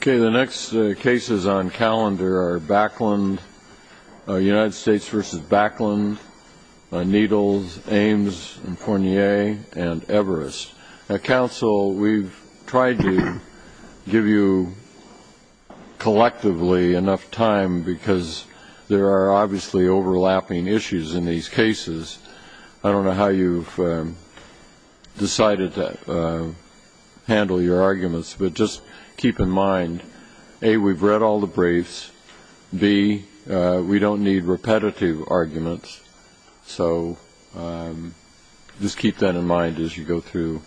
Okay, the next cases on calendar are Backlund, United States v. Backlund, Needles, Ames, and Fournier, and Everest. Council, we've tried to give you collectively enough time because there are obviously overlapping issues in these cases. I don't know how you've decided to handle your arguments, but just keep in mind, A, we've read all the briefs, B, we don't need repetitive arguments. So just keep that in mind as you go through,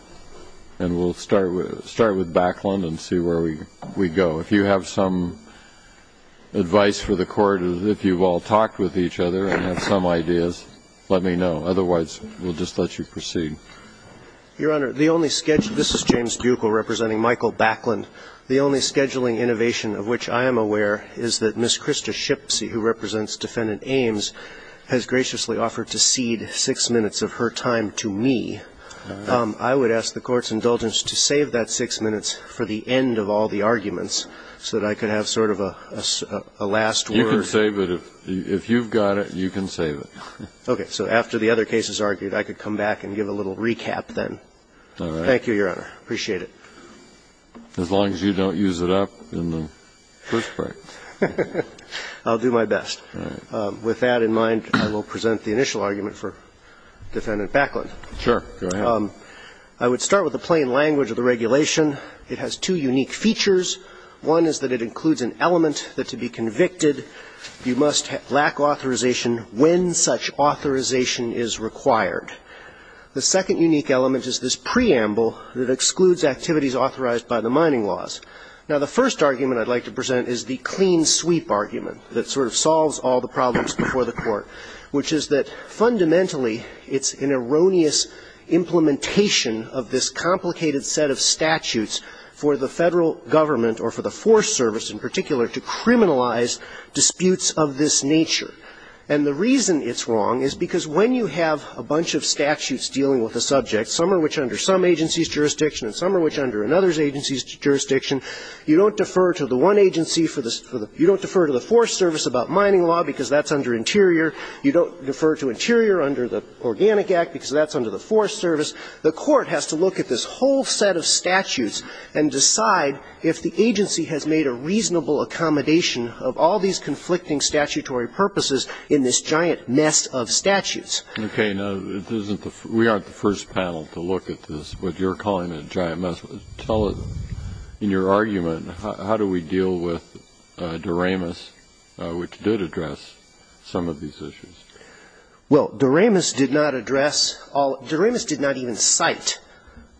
and we'll start with Backlund and see where we go. If you have some advice for the Court, if you've all talked with each other and have some ideas, let me know. Otherwise, we'll just let you proceed. James Buckel, Jr. Your Honor, the only schedule — this is James Buckel representing Michael Backlund. The only scheduling innovation of which I am aware is that Ms. Krista Shipsey, who represents Defendant Ames, has graciously offered to cede six minutes of her time to me. I would ask the Court's indulgence to save that six minutes for the end of all the arguments so that I could have sort of a last word. Kennedy You can save it. If you've got it, you can save it. Buckel Okay. So after the other cases argued, I could come back and give a little Kennedy All right. Buckel Thank you, Your Honor. Appreciate it. Kennedy As long as you don't use it up in the first part. Buckel I'll do my best. Kennedy All right. Buckel With that in mind, I will present the initial argument for Defendant Backlund. Kennedy Sure. Go ahead. Buckel I would start with the plain language of the regulation. It has two unique features. One is that it includes an element that, to be convicted, you must lack authorization when such authorization is required. The second unique element is this preamble that excludes activities authorized by the mining laws. Now, the first argument I'd like to present is the clean sweep argument that sort of solves all the problems before the Court, which is that fundamentally it's an erroneous implementation of this complicated set of statutes for the Federal Government or for the Forest Service in particular to criminalize disputes of this nature. And the reason it's wrong is because when you have a bunch of statutes dealing with a subject, some of which are under some agency's jurisdiction and some of which are under another agency's jurisdiction, you don't defer to the one agency for the you don't defer to the Forest Service about mining law because that's under Interior. You don't defer to Interior under the Organic Act because that's under the Forest Service. The Court has to look at this whole set of statutes and decide if the agency has made a reasonable accommodation of all these conflicting statutory purposes in this giant mess of statutes. Okay. Now, it isn't the we aren't the first panel to look at this, what you're calling a giant mess. Tell us, in your argument, how do we deal with Doremus, which did address some of these issues? Well, Doremus did not address all Doremus did not even cite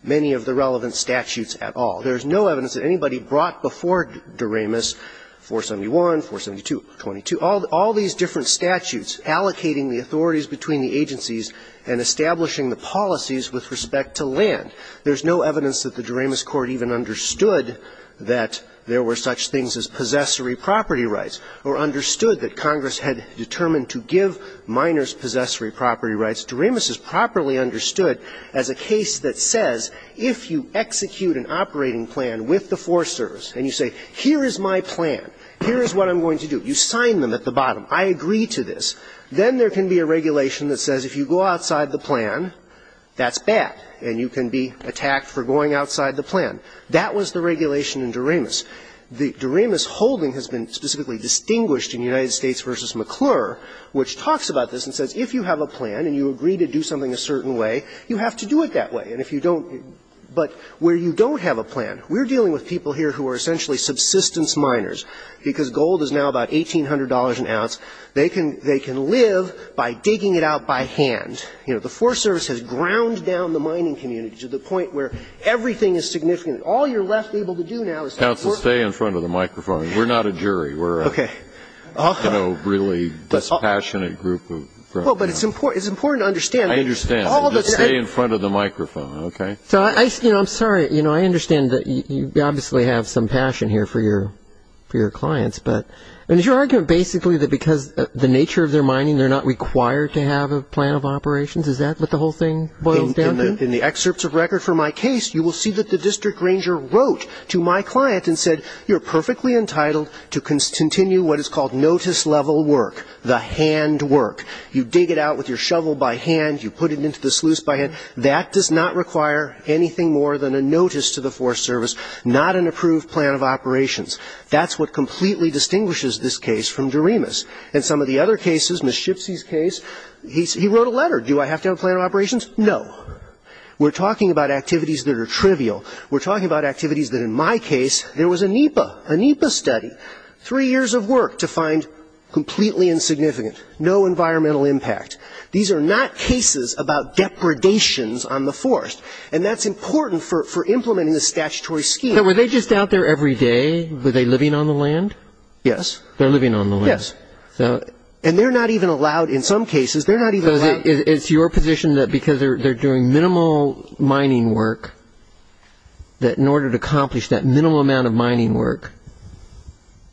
many of the relevant statutes at all. There is no evidence that anybody brought before Doremus 471, 472, 22, all these different statutes allocating the authorities between the agencies and establishing the policies with respect to land. There's no evidence that the Doremus Court even understood that there were such things as possessory property rights or understood that Congress had determined to give miners possessory property rights. Doremus is properly understood as a case that says if you execute an operating plan with the Forest Service and you say, here is my plan, here is what I'm going to do, you sign them at the bottom, I agree to this, then there can be a regulation that says if you go outside the plan, that's bad, and you can be attacked for going outside the plan. That was the regulation in Doremus. The Doremus holding has been specifically distinguished in United States v. McClure, which talks about this and says if you have a plan and you agree to do something a certain way, you have to do it that way, and if you don't. But where you don't have a plan, we're dealing with people here who are essentially subsistence miners, because gold is now about $1,800 an ounce. They can live by digging it out by hand. You know, the Forest Service has ground down the mining community to the point where everything is significant. All you're left able to do now is to work. Breyer. Counsel, stay in front of the microphone. We're not a jury. We're a, you know, really dispassionate group. Well, but it's important to understand. I understand. Just stay in front of the microphone, okay? So, you know, I'm sorry. You know, I understand that you obviously have some passion here for your clients, but is your argument basically that because of the nature of their mining, they're not required to have a plan of operations? Is that what the whole thing boils down to? In the excerpts of record for my case, you will see that the district ranger wrote to my client and said, You're perfectly entitled to continue what is called notice-level work, the handwork. You dig it out with your shovel by hand. You put it into the sluice by hand. That does not require anything more than a notice to the Forest Service, not an approved plan of operations. That's what completely distinguishes this case from Doremus. In some of the other cases, Ms. Shipsey's case, he wrote a letter. Do I have to have a plan of operations? No. We're talking about activities that are trivial. We're talking about activities that, in my case, there was a NEPA, a NEPA study, three years of work to find completely insignificant, no environmental impact. These are not cases about depredations on the forest, and that's important for implementing the statutory scheme. Now, were they just out there every day? Were they living on the land? Yes. They're living on the land. Yes. And they're not even allowed, in some cases, they're not even allowed. It's your position that because they're doing minimal mining work, that in order to accomplish that minimal amount of mining work,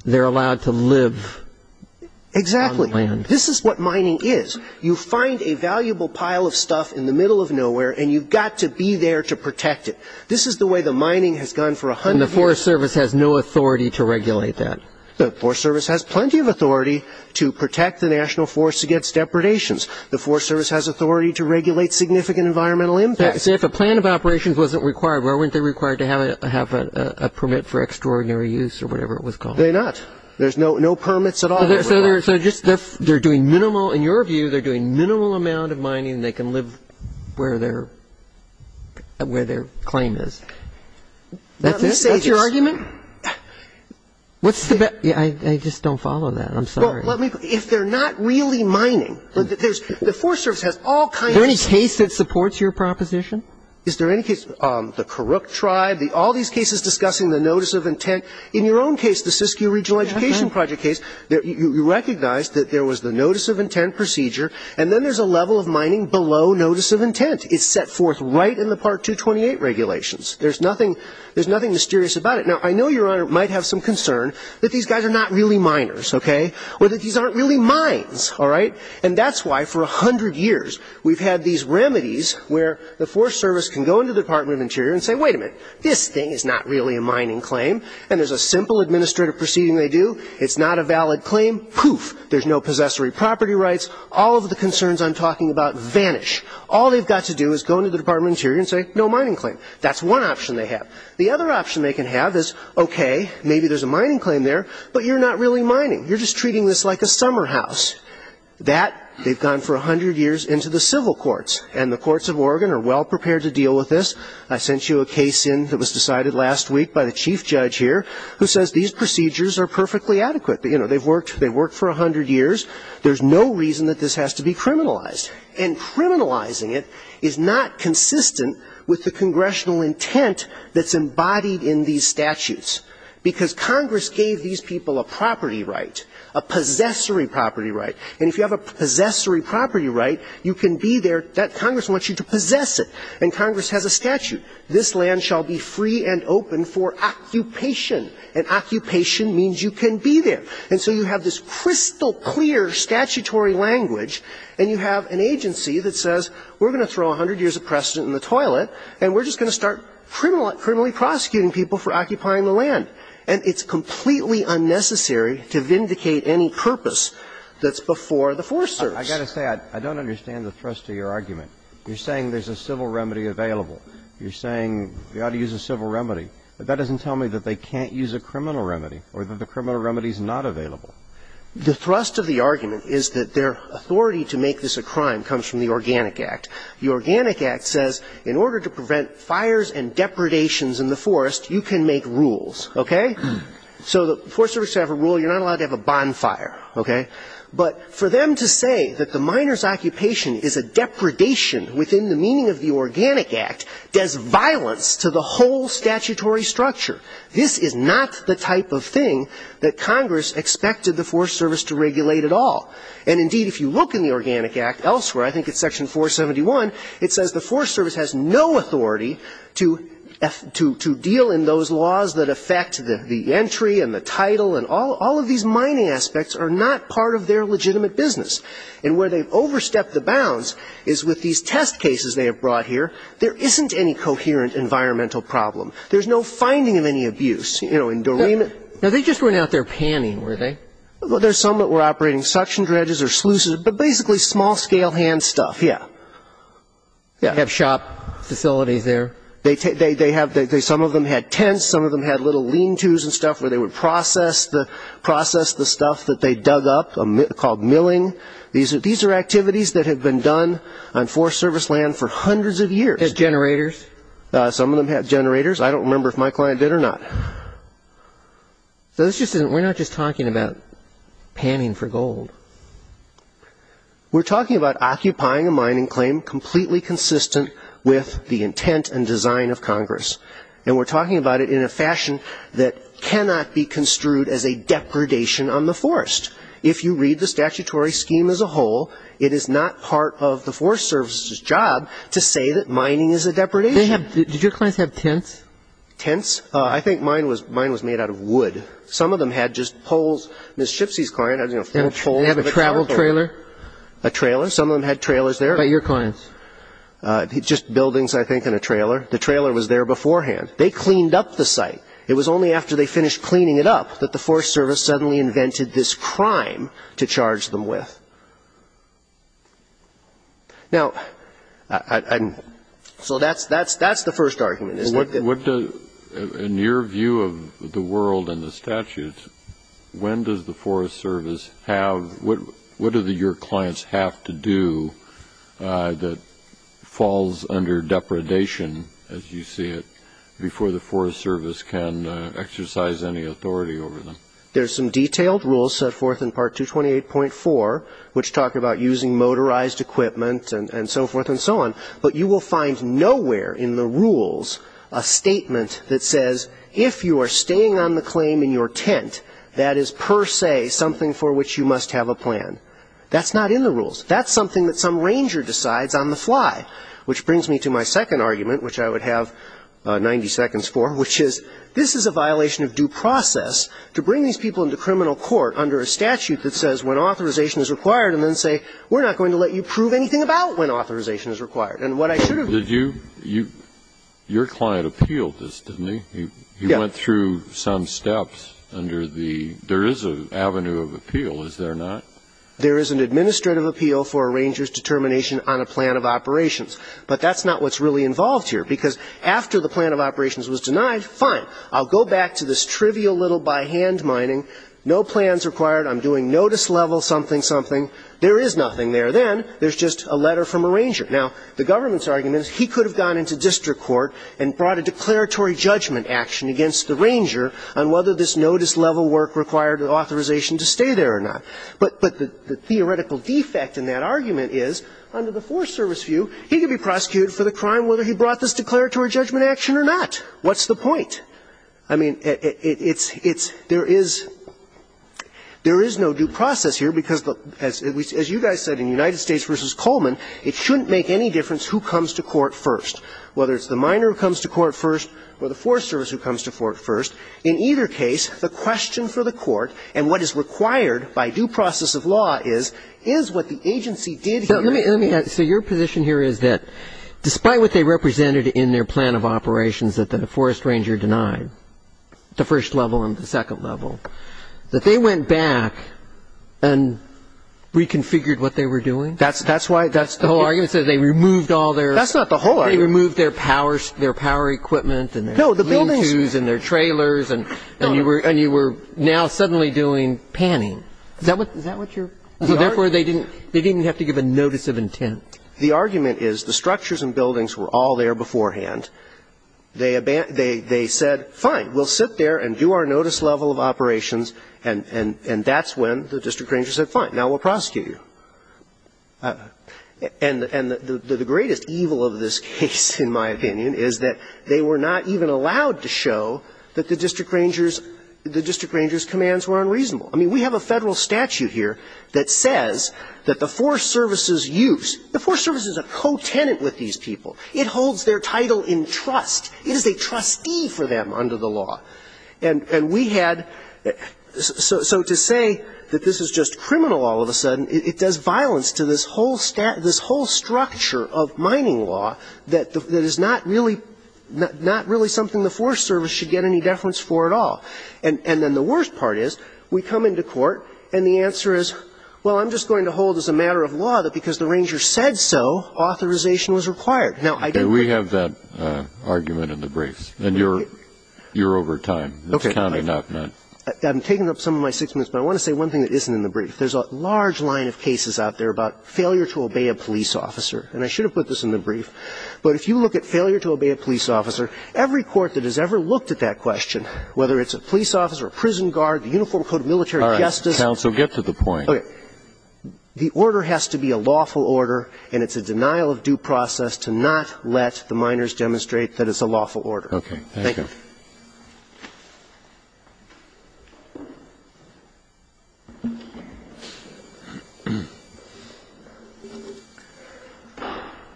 they're allowed to live on the land. Exactly. This is what mining is. You find a valuable pile of stuff in the middle of nowhere, and you've got to be there to protect it. This is the way the mining has gone for 100 years. And the Forest Service has no authority to regulate that. The Forest Service has plenty of authority to protect the national forests against depredations. The Forest Service has authority to regulate significant environmental impact. See, if a plan of operations wasn't required, why weren't they required to have a permit for extraordinary use or whatever it was called? They're not. There's no permits at all. So they're doing minimal, in your view, they're doing minimal amount of mining, and they can live where their claim is. That's it? What's your argument? I just don't follow that. I'm sorry. If they're not really mining, the Forest Service has all kinds of stuff. Is there any case that supports your proposition? Is there any case? The Kurok tribe, all these cases discussing the notice of intent. In your own case, the Siskiyou Regional Education Project case, you recognized that there was the notice of intent procedure, and then there's a level of mining below notice of intent. It's set forth right in the Part 228 regulations. There's nothing mysterious about it. Now, I know, Your Honor, it might have some concern that these guys are not really miners, okay, or that these aren't really mines, all right? And that's why, for 100 years, we've had these remedies where the Forest Service can go into the Department of Interior and say, wait a minute, this thing is not really a mining claim. And there's a simple administrative proceeding they do. It's not a valid claim. Poof. There's no possessory property rights. All of the concerns I'm talking about vanish. All they've got to do is go into the Department of Interior and say, no mining claim. That's one option they have. The other option they can have is, okay, maybe there's a mining claim there, but you're not really mining. You're just treating this like a summer house. That, they've gone for 100 years into the civil courts, and the courts of Oregon are well prepared to deal with this. I sent you a case in that was decided last week by the chief judge here who says these procedures are perfectly adequate. You know, they've worked for 100 years. There's no reason that this has to be criminalized. And criminalizing it is not consistent with the congressional intent that's embodied in these statutes. Because Congress gave these people a property right, a possessory property right. And if you have a possessory property right, you can be there. Congress wants you to possess it. And Congress has a statute. This land shall be free and open for occupation. And occupation means you can be there. And so you have this crystal clear statutory language, and you have an agency that says, we're going to throw 100 years of precedent in the toilet, and we're just going to start criminally prosecuting people for occupying the land. And it's completely unnecessary to vindicate any purpose that's before the force serves. I've got to say, I don't understand the thrust of your argument. You're saying there's a civil remedy available. You're saying we ought to use a civil remedy. But that doesn't tell me that they can't use a criminal remedy or that the criminal remedy is not available. The thrust of the argument is that their authority to make this a crime comes from the Organic Act. The Organic Act says in order to prevent fires and depredations in the forest, you can make rules. Okay? So the force service should have a rule. You're not allowed to have a bonfire. Okay? But for them to say that the miner's occupation is a depredation within the meaning of the Organic Act does violence to the whole statutory structure. This is not the type of thing that Congress expected the force service to regulate at all. And indeed, if you look in the Organic Act elsewhere, I think it's section 471, it says the force service has no authority to deal in those laws that affect the entry and the title and all of these mining aspects are not part of their legitimate business. And where they've overstepped the bounds is with these test cases they have brought here. There isn't any coherent environmental problem. There's no finding of any abuse. You know, in Doreen. Now, they just went out there panning, were they? Well, there's some that were operating suction dredges or sluices, but basically small-scale hand stuff, yeah. They have shop facilities there. Some of them had tents. Some of them had little lean-to's and stuff where they would process the stuff that they dug up called milling. These are activities that have been done on force service land for hundreds of years. Had generators. Some of them had generators. I don't remember if my client did or not. So we're not just talking about panning for gold. We're talking about occupying a mining claim completely consistent with the intent and design of Congress. And we're talking about it in a fashion that cannot be construed as a depredation on the forest. If you read the statutory scheme as a whole, it is not part of the Forest Service's job to say that mining is a depredation. Did your clients have tents? Tents? I think mine was made out of wood. Some of them had just poles. Ms. Shipsey's client had, you know, four poles. Did they have a travel trailer? A trailer. Some of them had trailers there. By your clients? Just buildings, I think, and a trailer. The trailer was there beforehand. They cleaned up the site. It was only after they finished cleaning it up that the Forest Service suddenly invented this crime to charge them with. Now, so that's the first argument. In your view of the world and the statutes, when does the Forest Service have what do your clients have to do that falls under depredation, as you see it, before the Forest Service can exercise any authority over them? There's some detailed rules set forth in Part 228.4, which talk about using motorized equipment and so forth and so on. But you will find nowhere in the rules a statement that says, if you are staying on the claim in your tent, that is per se something for which you must have a plan. That's not in the rules. That's something that some ranger decides on the fly, which brings me to my second argument, which I would have 90 seconds for, which is, this is a violation of due process to bring these people into criminal court under a statute that says when authorization is required and then say, we're not going to let you prove anything about when authorization is required. And what I should have done. Did you, your client appealed this, didn't he? Yeah. He went through some steps under the, there is an avenue of appeal, is there not? There is an administrative appeal for a ranger's determination on a plan of operations. But that's not what's really involved here, because after the plan of operations was denied, fine, I'll go back to this trivial little by hand mining, no plans required, I'm doing notice level something, something. There is nothing there. Then there's just a letter from a ranger. Now, the government's argument is he could have gone into district court and brought a declaratory judgment action against the ranger on whether this notice level work required authorization to stay there or not. But the theoretical defect in that argument is, under the Forest Service view, he could be prosecuted for the crime whether he brought this declaratory judgment action What's the point? I mean, it's, it's, there is, there is no due process here, because as you guys said in United States v. Coleman, it shouldn't make any difference who comes to court first, whether it's the miner who comes to court first or the Forest Service who comes to court first. In either case, the question for the court and what is required by due process of law is, is what the agency did here. Let me, let me add. So your position here is that despite what they represented in their plan of operations that, that a forest ranger denied, the first level and the second level, that they went back and reconfigured what they were doing? That's, that's why, that's the whole argument. So they removed all their That's not the whole argument. They removed their power, their power equipment and their No, the buildings And their trailers and, and you were, and you were now suddenly doing panning. Is that what, is that what you're So therefore they didn't, they didn't have to give a notice of intent. The argument is the structures and buildings were all there beforehand. They, they, they said fine, we'll sit there and do our notice level of operations and, and, and that's when the district ranger said fine, now we'll prosecute you. And, and the, the greatest evil of this case, in my opinion, is that they were not even allowed to show that the district ranger's, the district ranger's commands were unreasonable. I mean, we have a Federal statute here that says that the Forest Service's abuse, the Forest Service is a co-tenant with these people. It holds their title in trust. It is a trustee for them under the law. And, and we had, so, so to say that this is just criminal all of a sudden, it, it does violence to this whole stat, this whole structure of mining law that, that is not really, not really something the Forest Service should get any deference for at all. And, and then the worst part is we come into court and the answer is, well, I'm just going to hold as a matter of law that because the ranger said so, authorization was required. Now, I don't think. And we have that argument in the briefs. And you're, you're over time. Okay. That's counting up. I'm taking up some of my six minutes, but I want to say one thing that isn't in the brief. There's a large line of cases out there about failure to obey a police officer. And I should have put this in the brief, but if you look at failure to obey a police officer, every court that has ever looked at that question, whether it's a police officer, a prison guard, the Uniform Code of Military Justice. Counsel, get to the point. Okay. The order has to be a lawful order and it's a denial of due process to not let the minors demonstrate that it's a lawful order. Okay. Thank you.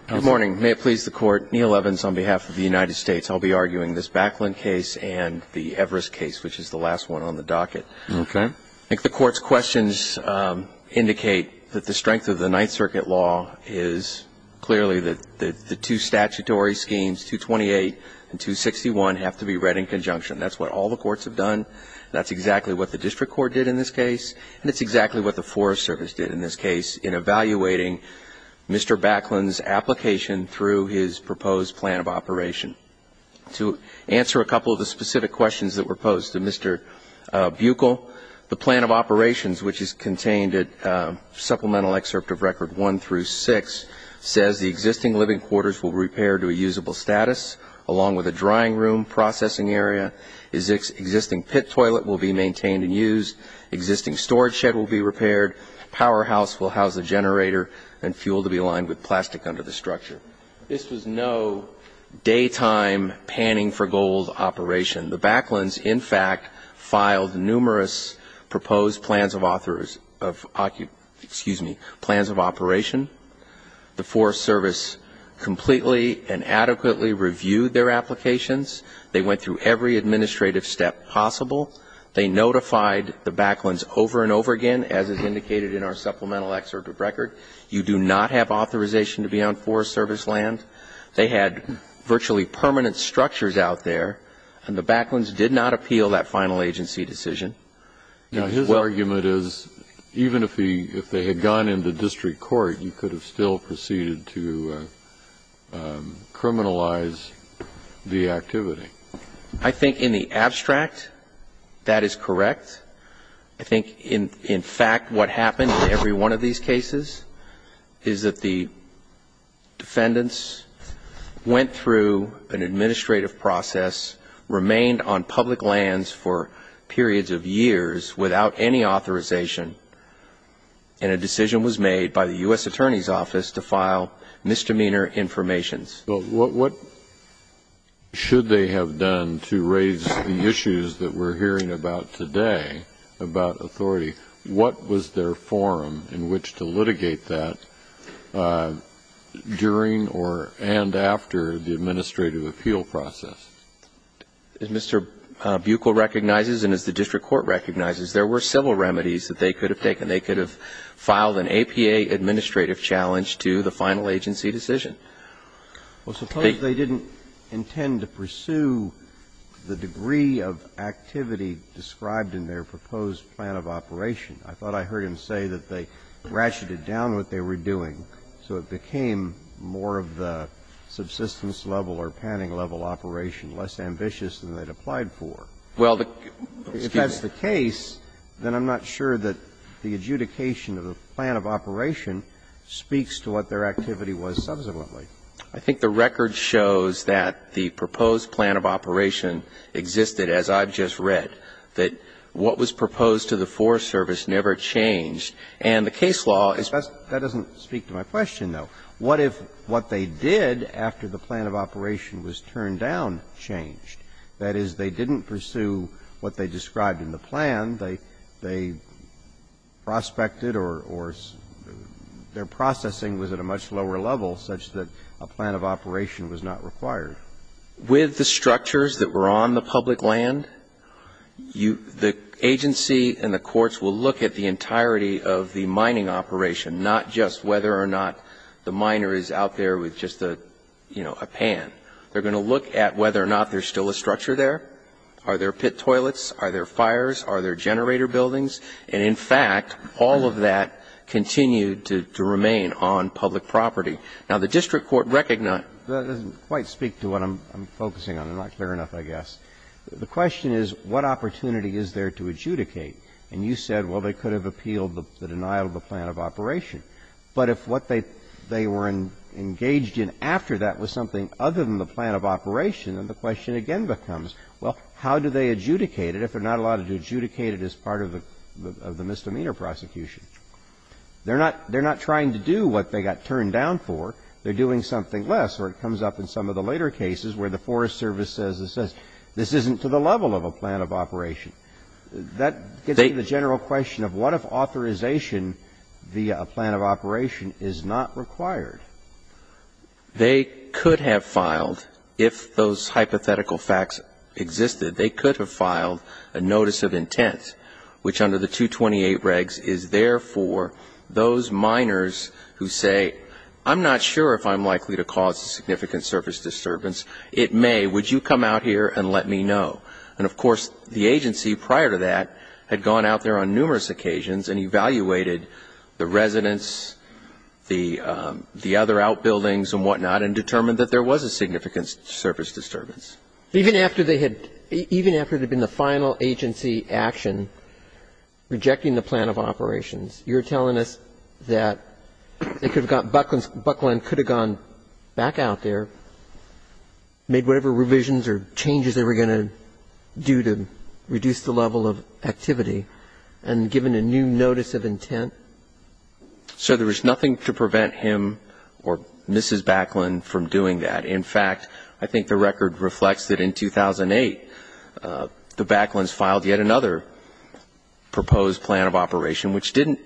Good morning. May it please the Court. Neil Evans on behalf of the United States. I'll be arguing this Backland case and the Everest case, which is the last one on the Okay. I think the Court's questions indicate that the strength of the Ninth Circuit law is clearly that the two statutory schemes, 228 and 261, have to be read in conjunction. That's what all the courts have done. That's exactly what the district court did in this case, and it's exactly what the Forest Service did in this case in evaluating Mr. Backland's application through his proposed plan of operation. To answer a couple of the specific questions that were posed to Mr. Buechel, the plan of operations, which is contained at Supplemental Excerpt of Record 1 through 6, says the existing living quarters will be repaired to a usable status, along with a drying room, processing area. Existing pit toilet will be maintained and used. Existing storage shed will be repaired. Powerhouse will house a generator and fuel to be lined with plastic under the structure. This was no daytime panning-for-gold operation. The Backlands, in fact, filed numerous proposed plans of authors of, excuse me, plans of operation. The Forest Service completely and adequately reviewed their applications. They went through every administrative step possible. They notified the Backlands over and over again, as is indicated in our Supplemental Excerpt of Record. You do not have authorization to be on Forest Service land. They had virtually permanent structures out there, and the Backlands did not appeal that final agency decision. Now, his argument is even if they had gone into district court, you could have still proceeded to criminalize the activity. I think in the abstract, that is correct. I think, in fact, what happened in every one of these cases is that the defendants went through an administrative process, remained on public lands for periods of years without any authorization, and a decision was made by the U.S. Attorney's Office to file misdemeanor information. So what should they have done to raise the issues that we're hearing about today, about authority? What was their forum in which to litigate that during or and after the administrative appeal process? As Mr. Buechel recognizes and as the district court recognizes, there were several remedies that they could have taken. They could have filed an APA administrative challenge to the final agency decision. Well, suppose they didn't intend to pursue the degree of activity described in their proposed plan of operation. I thought I heard him say that they ratcheted down what they were doing, so it became more of the subsistence level or panning level operation, less ambitious than they had applied for. Well, excuse me. Well, if that's the case, then I'm not sure that the adjudication of the plan of operation speaks to what their activity was subsequently. I think the record shows that the proposed plan of operation existed, as I've just read, that what was proposed to the Forest Service never changed. And the case law is best. That doesn't speak to my question, though. What if what they did after the plan of operation was turned down changed? That is, they didn't pursue what they described in the plan. They prospected or their processing was at a much lower level such that a plan of operation was not required. With the structures that were on the public land, the agency and the courts will look at the entirety of the mining operation, not just whether or not the miner is out there with just a, you know, a pan. They're going to look at whether or not there's still a structure there. Are there pit toilets? Are there fires? Are there generator buildings? And in fact, all of that continued to remain on public property. Now, the district court recognized. That doesn't quite speak to what I'm focusing on. I'm not clear enough, I guess. The question is, what opportunity is there to adjudicate? And you said, well, they could have appealed the denial of the plan of operation. But if what they were engaged in after that was something other than the plan of operation, then the question again becomes, well, how do they adjudicate it if they're not allowed to adjudicate it as part of the misdemeanor prosecution? They're not trying to do what they got turned down for. They're doing something less. Or it comes up in some of the later cases where the Forest Service says this isn't to the level of a plan of operation. That gets to the general question of what if authorization via a plan of operation is not required? They could have filed, if those hypothetical facts existed, they could have filed a notice of intent, which under the 228 regs is there for those minors who say, I'm not sure if I'm likely to cause a significant service disturbance. It may. Would you come out here and let me know? And, of course, the agency prior to that had gone out there on numerous occasions and evaluated the residents, the other outbuildings and whatnot, and determined that there was a significant service disturbance. Even after they had been the final agency action rejecting the plan of operations, you're telling us that they could have gone, Buckland could have gone back out there, made whatever revisions or changes they were going to do to reduce the level of activity, and given a new notice of intent? Sir, there was nothing to prevent him or Mrs. Buckland from doing that. In fact, I think the record reflects that in 2008 the Bucklands filed yet another proposed plan of operation, which didn't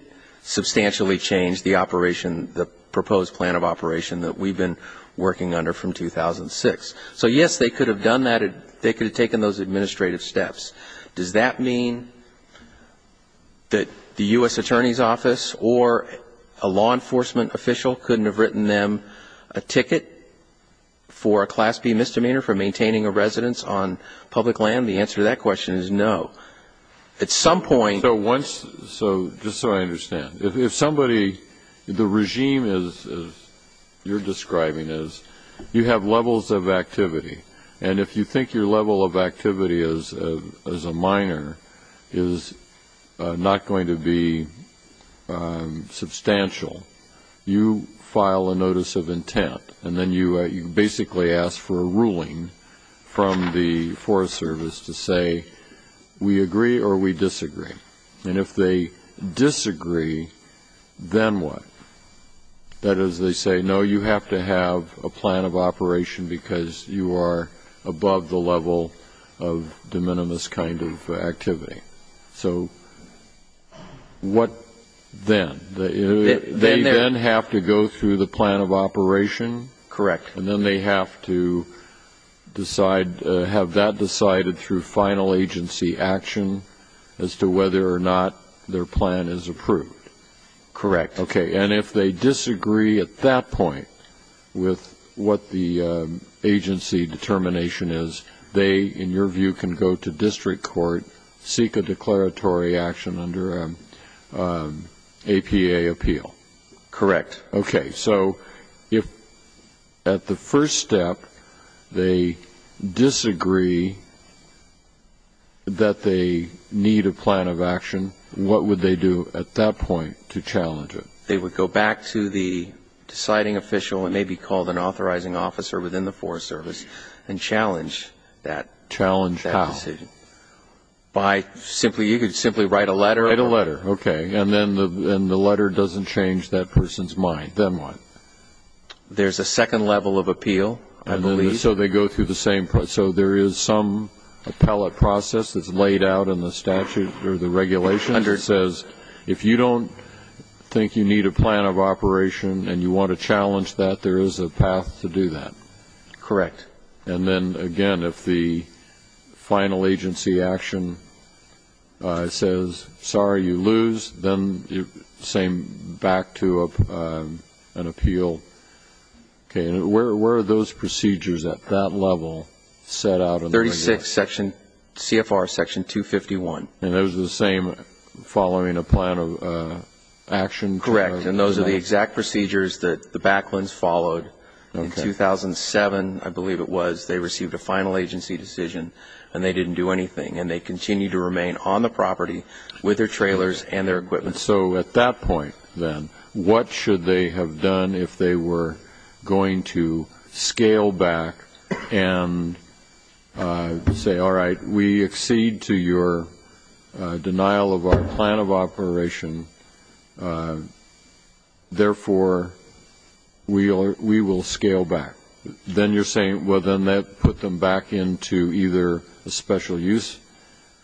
substantially change the operation, the proposed plan of operation that we've been working under from 2006. So, yes, they could have done that. They could have taken those administrative steps. Does that mean that the U.S. Attorney's Office or a law enforcement official couldn't have written them a ticket for a Class B misdemeanor for maintaining a residence on public land? The answer to that question is no. At some point. Just so I understand, if somebody, the regime is, you're describing is, you have levels of activity, and if you think your level of activity as a minor is not going to be substantial, you file a notice of intent, and then you basically ask for a ruling from the Forest Service to say, we agree or we disagree. And if they disagree, then what? That is, they say, no, you have to have a plan of operation because you are above the level of de minimis kind of activity. So, what then? They then have to go through the plan of operation? Correct. And then they have to decide, have that decided through final agency action as to whether or not their plan is approved? Correct. Okay. And if they disagree at that point with what the agency determination is, they, in your view, can go to district court, seek a declaratory action under an APA appeal? Correct. Okay. So, if at the first step they disagree that they need a plan of action, what would they do at that point to challenge it? They would go back to the deciding official, it may be called an authorizing officer within the Forest Service, and challenge that decision. Challenge how? By simply, you could simply write a letter. Write a letter. Okay. And then the letter doesn't change that person's mind. Then what? There's a second level of appeal, I believe. So, they go through the same process. So, there is some appellate process that's laid out in the statute or the regulations that says if you don't think you need a plan of operation and you want to challenge that, there is a path to do that? Correct. And then, again, if the final agency action says, sorry, you lose, then same back to an appeal. Okay. And where are those procedures at that level set out in the regulations? 36, CFR Section 251. And those are the same following a plan of action? Correct. And those are the exact procedures that the Backlands followed in 2007, I believe it was, they received a final agency decision, and they didn't do anything. And they continued to remain on the property with their trailers and their equipment. So, at that point, then, what should they have done if they were going to scale back and say, all right, we accede to your denial of our plan of operation. Therefore, we will scale back. Then you're saying, well, then that put them back into either a special use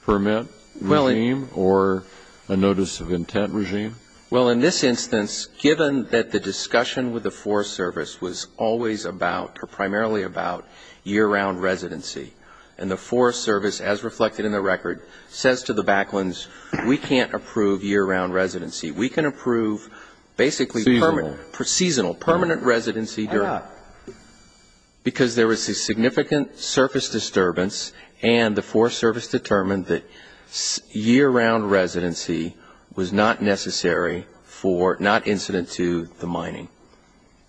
permit regime or a notice of intent regime? Well, in this instance, given that the discussion with the Forest Service was always about or primarily about year-round residency, and the Forest Service, as reflected in the record, says to the Backlands, we can't approve year-round residency. We can approve basically permanent. Seasonal. Permanent residency. Why not? Because there was a significant surface disturbance and the Forest Service determined that year-round residency was not necessary for, not incident to, the mining.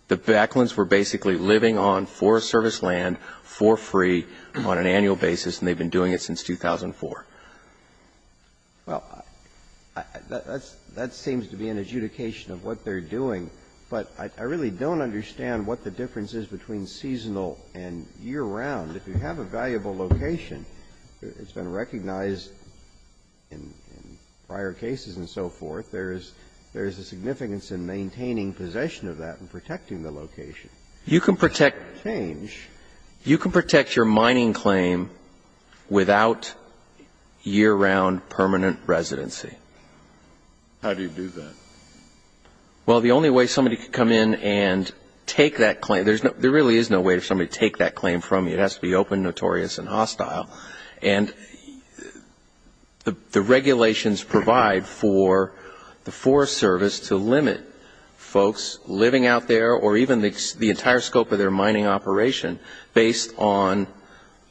The Backlands were basically living on Forest Service land for free on an annual basis, and they've been doing it since 2004. Well, that seems to be an adjudication of what they're doing. But I really don't understand what the difference is between seasonal and year-round. If you have a valuable location, it's been recognized in prior cases and so forth. There is a significance in maintaining possession of that and protecting the location. You can protect change. You can protect your mining claim without year-round permanent residency. How do you do that? Well, the only way somebody could come in and take that claim, there really is no way for somebody to take that claim from you. It has to be open, notorious, and hostile. And the regulations provide for the Forest Service to limit folks living out there or even the entire scope of their mining operation based on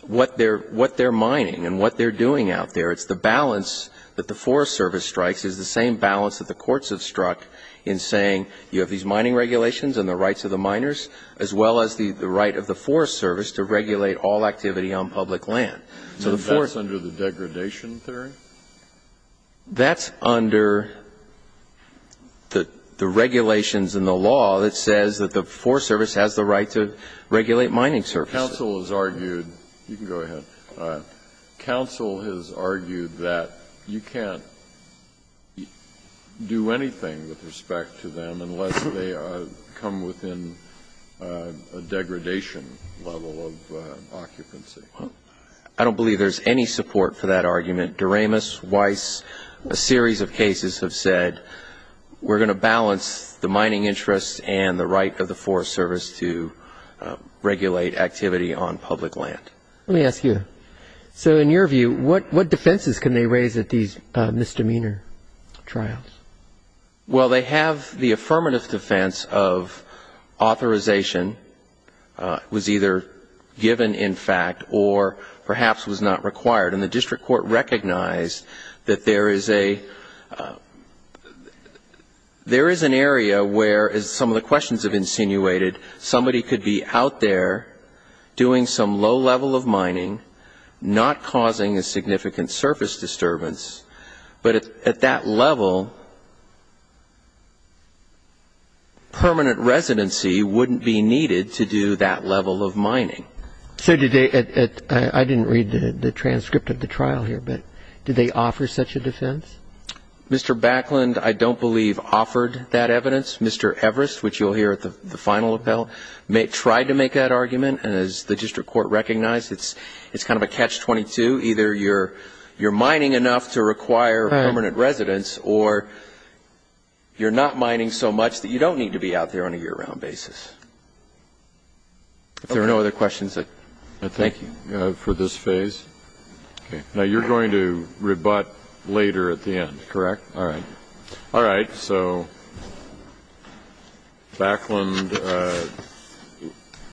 what they're mining and what they're doing out there. It's the balance that the Forest Service strikes is the same balance that the courts have struck in saying you have these mining regulations and the rights of the miners, as well as the right of the Forest Service to regulate all activity on public land. So the Forest ---- Then that's under the degradation theory? That's under the regulations and the law that says that the Forest Service has the right to regulate mining services. Counsel has argued you can go ahead. Counsel has argued that you can't do anything with respect to them unless they come within a degradation level of occupancy. I don't believe there's any support for that argument. Doremus, Weiss, a series of cases have said we're going to balance the mining interests and the right of the Forest Service to regulate activity on public land. Let me ask you, so in your view, what defenses can they raise at these misdemeanor trials? Well, they have the affirmative defense of authorization was either given in fact or perhaps was not required. And the district court recognized that there is a ---- there is an area where, as some of the questions have insinuated, somebody could be out there doing some low level of mining, not causing a significant surface disturbance, but at that level, permanent residency wouldn't be needed to do that level of mining. So did they at ---- I didn't read the transcript of the trial here, but did they offer such a defense? Mr. Backland, I don't believe, offered that evidence. Mr. Everest, which you'll hear at the final appellate, tried to make that argument. And as the district court recognized, it's kind of a catch-22. Either you're mining enough to require permanent residence or you're not mining so much that you don't need to be out there on a year-round basis. If there are no other questions, thank you. Thank you for this phase. Okay. Now, you're going to rebut later at the end, correct? All right. All right. Thank you.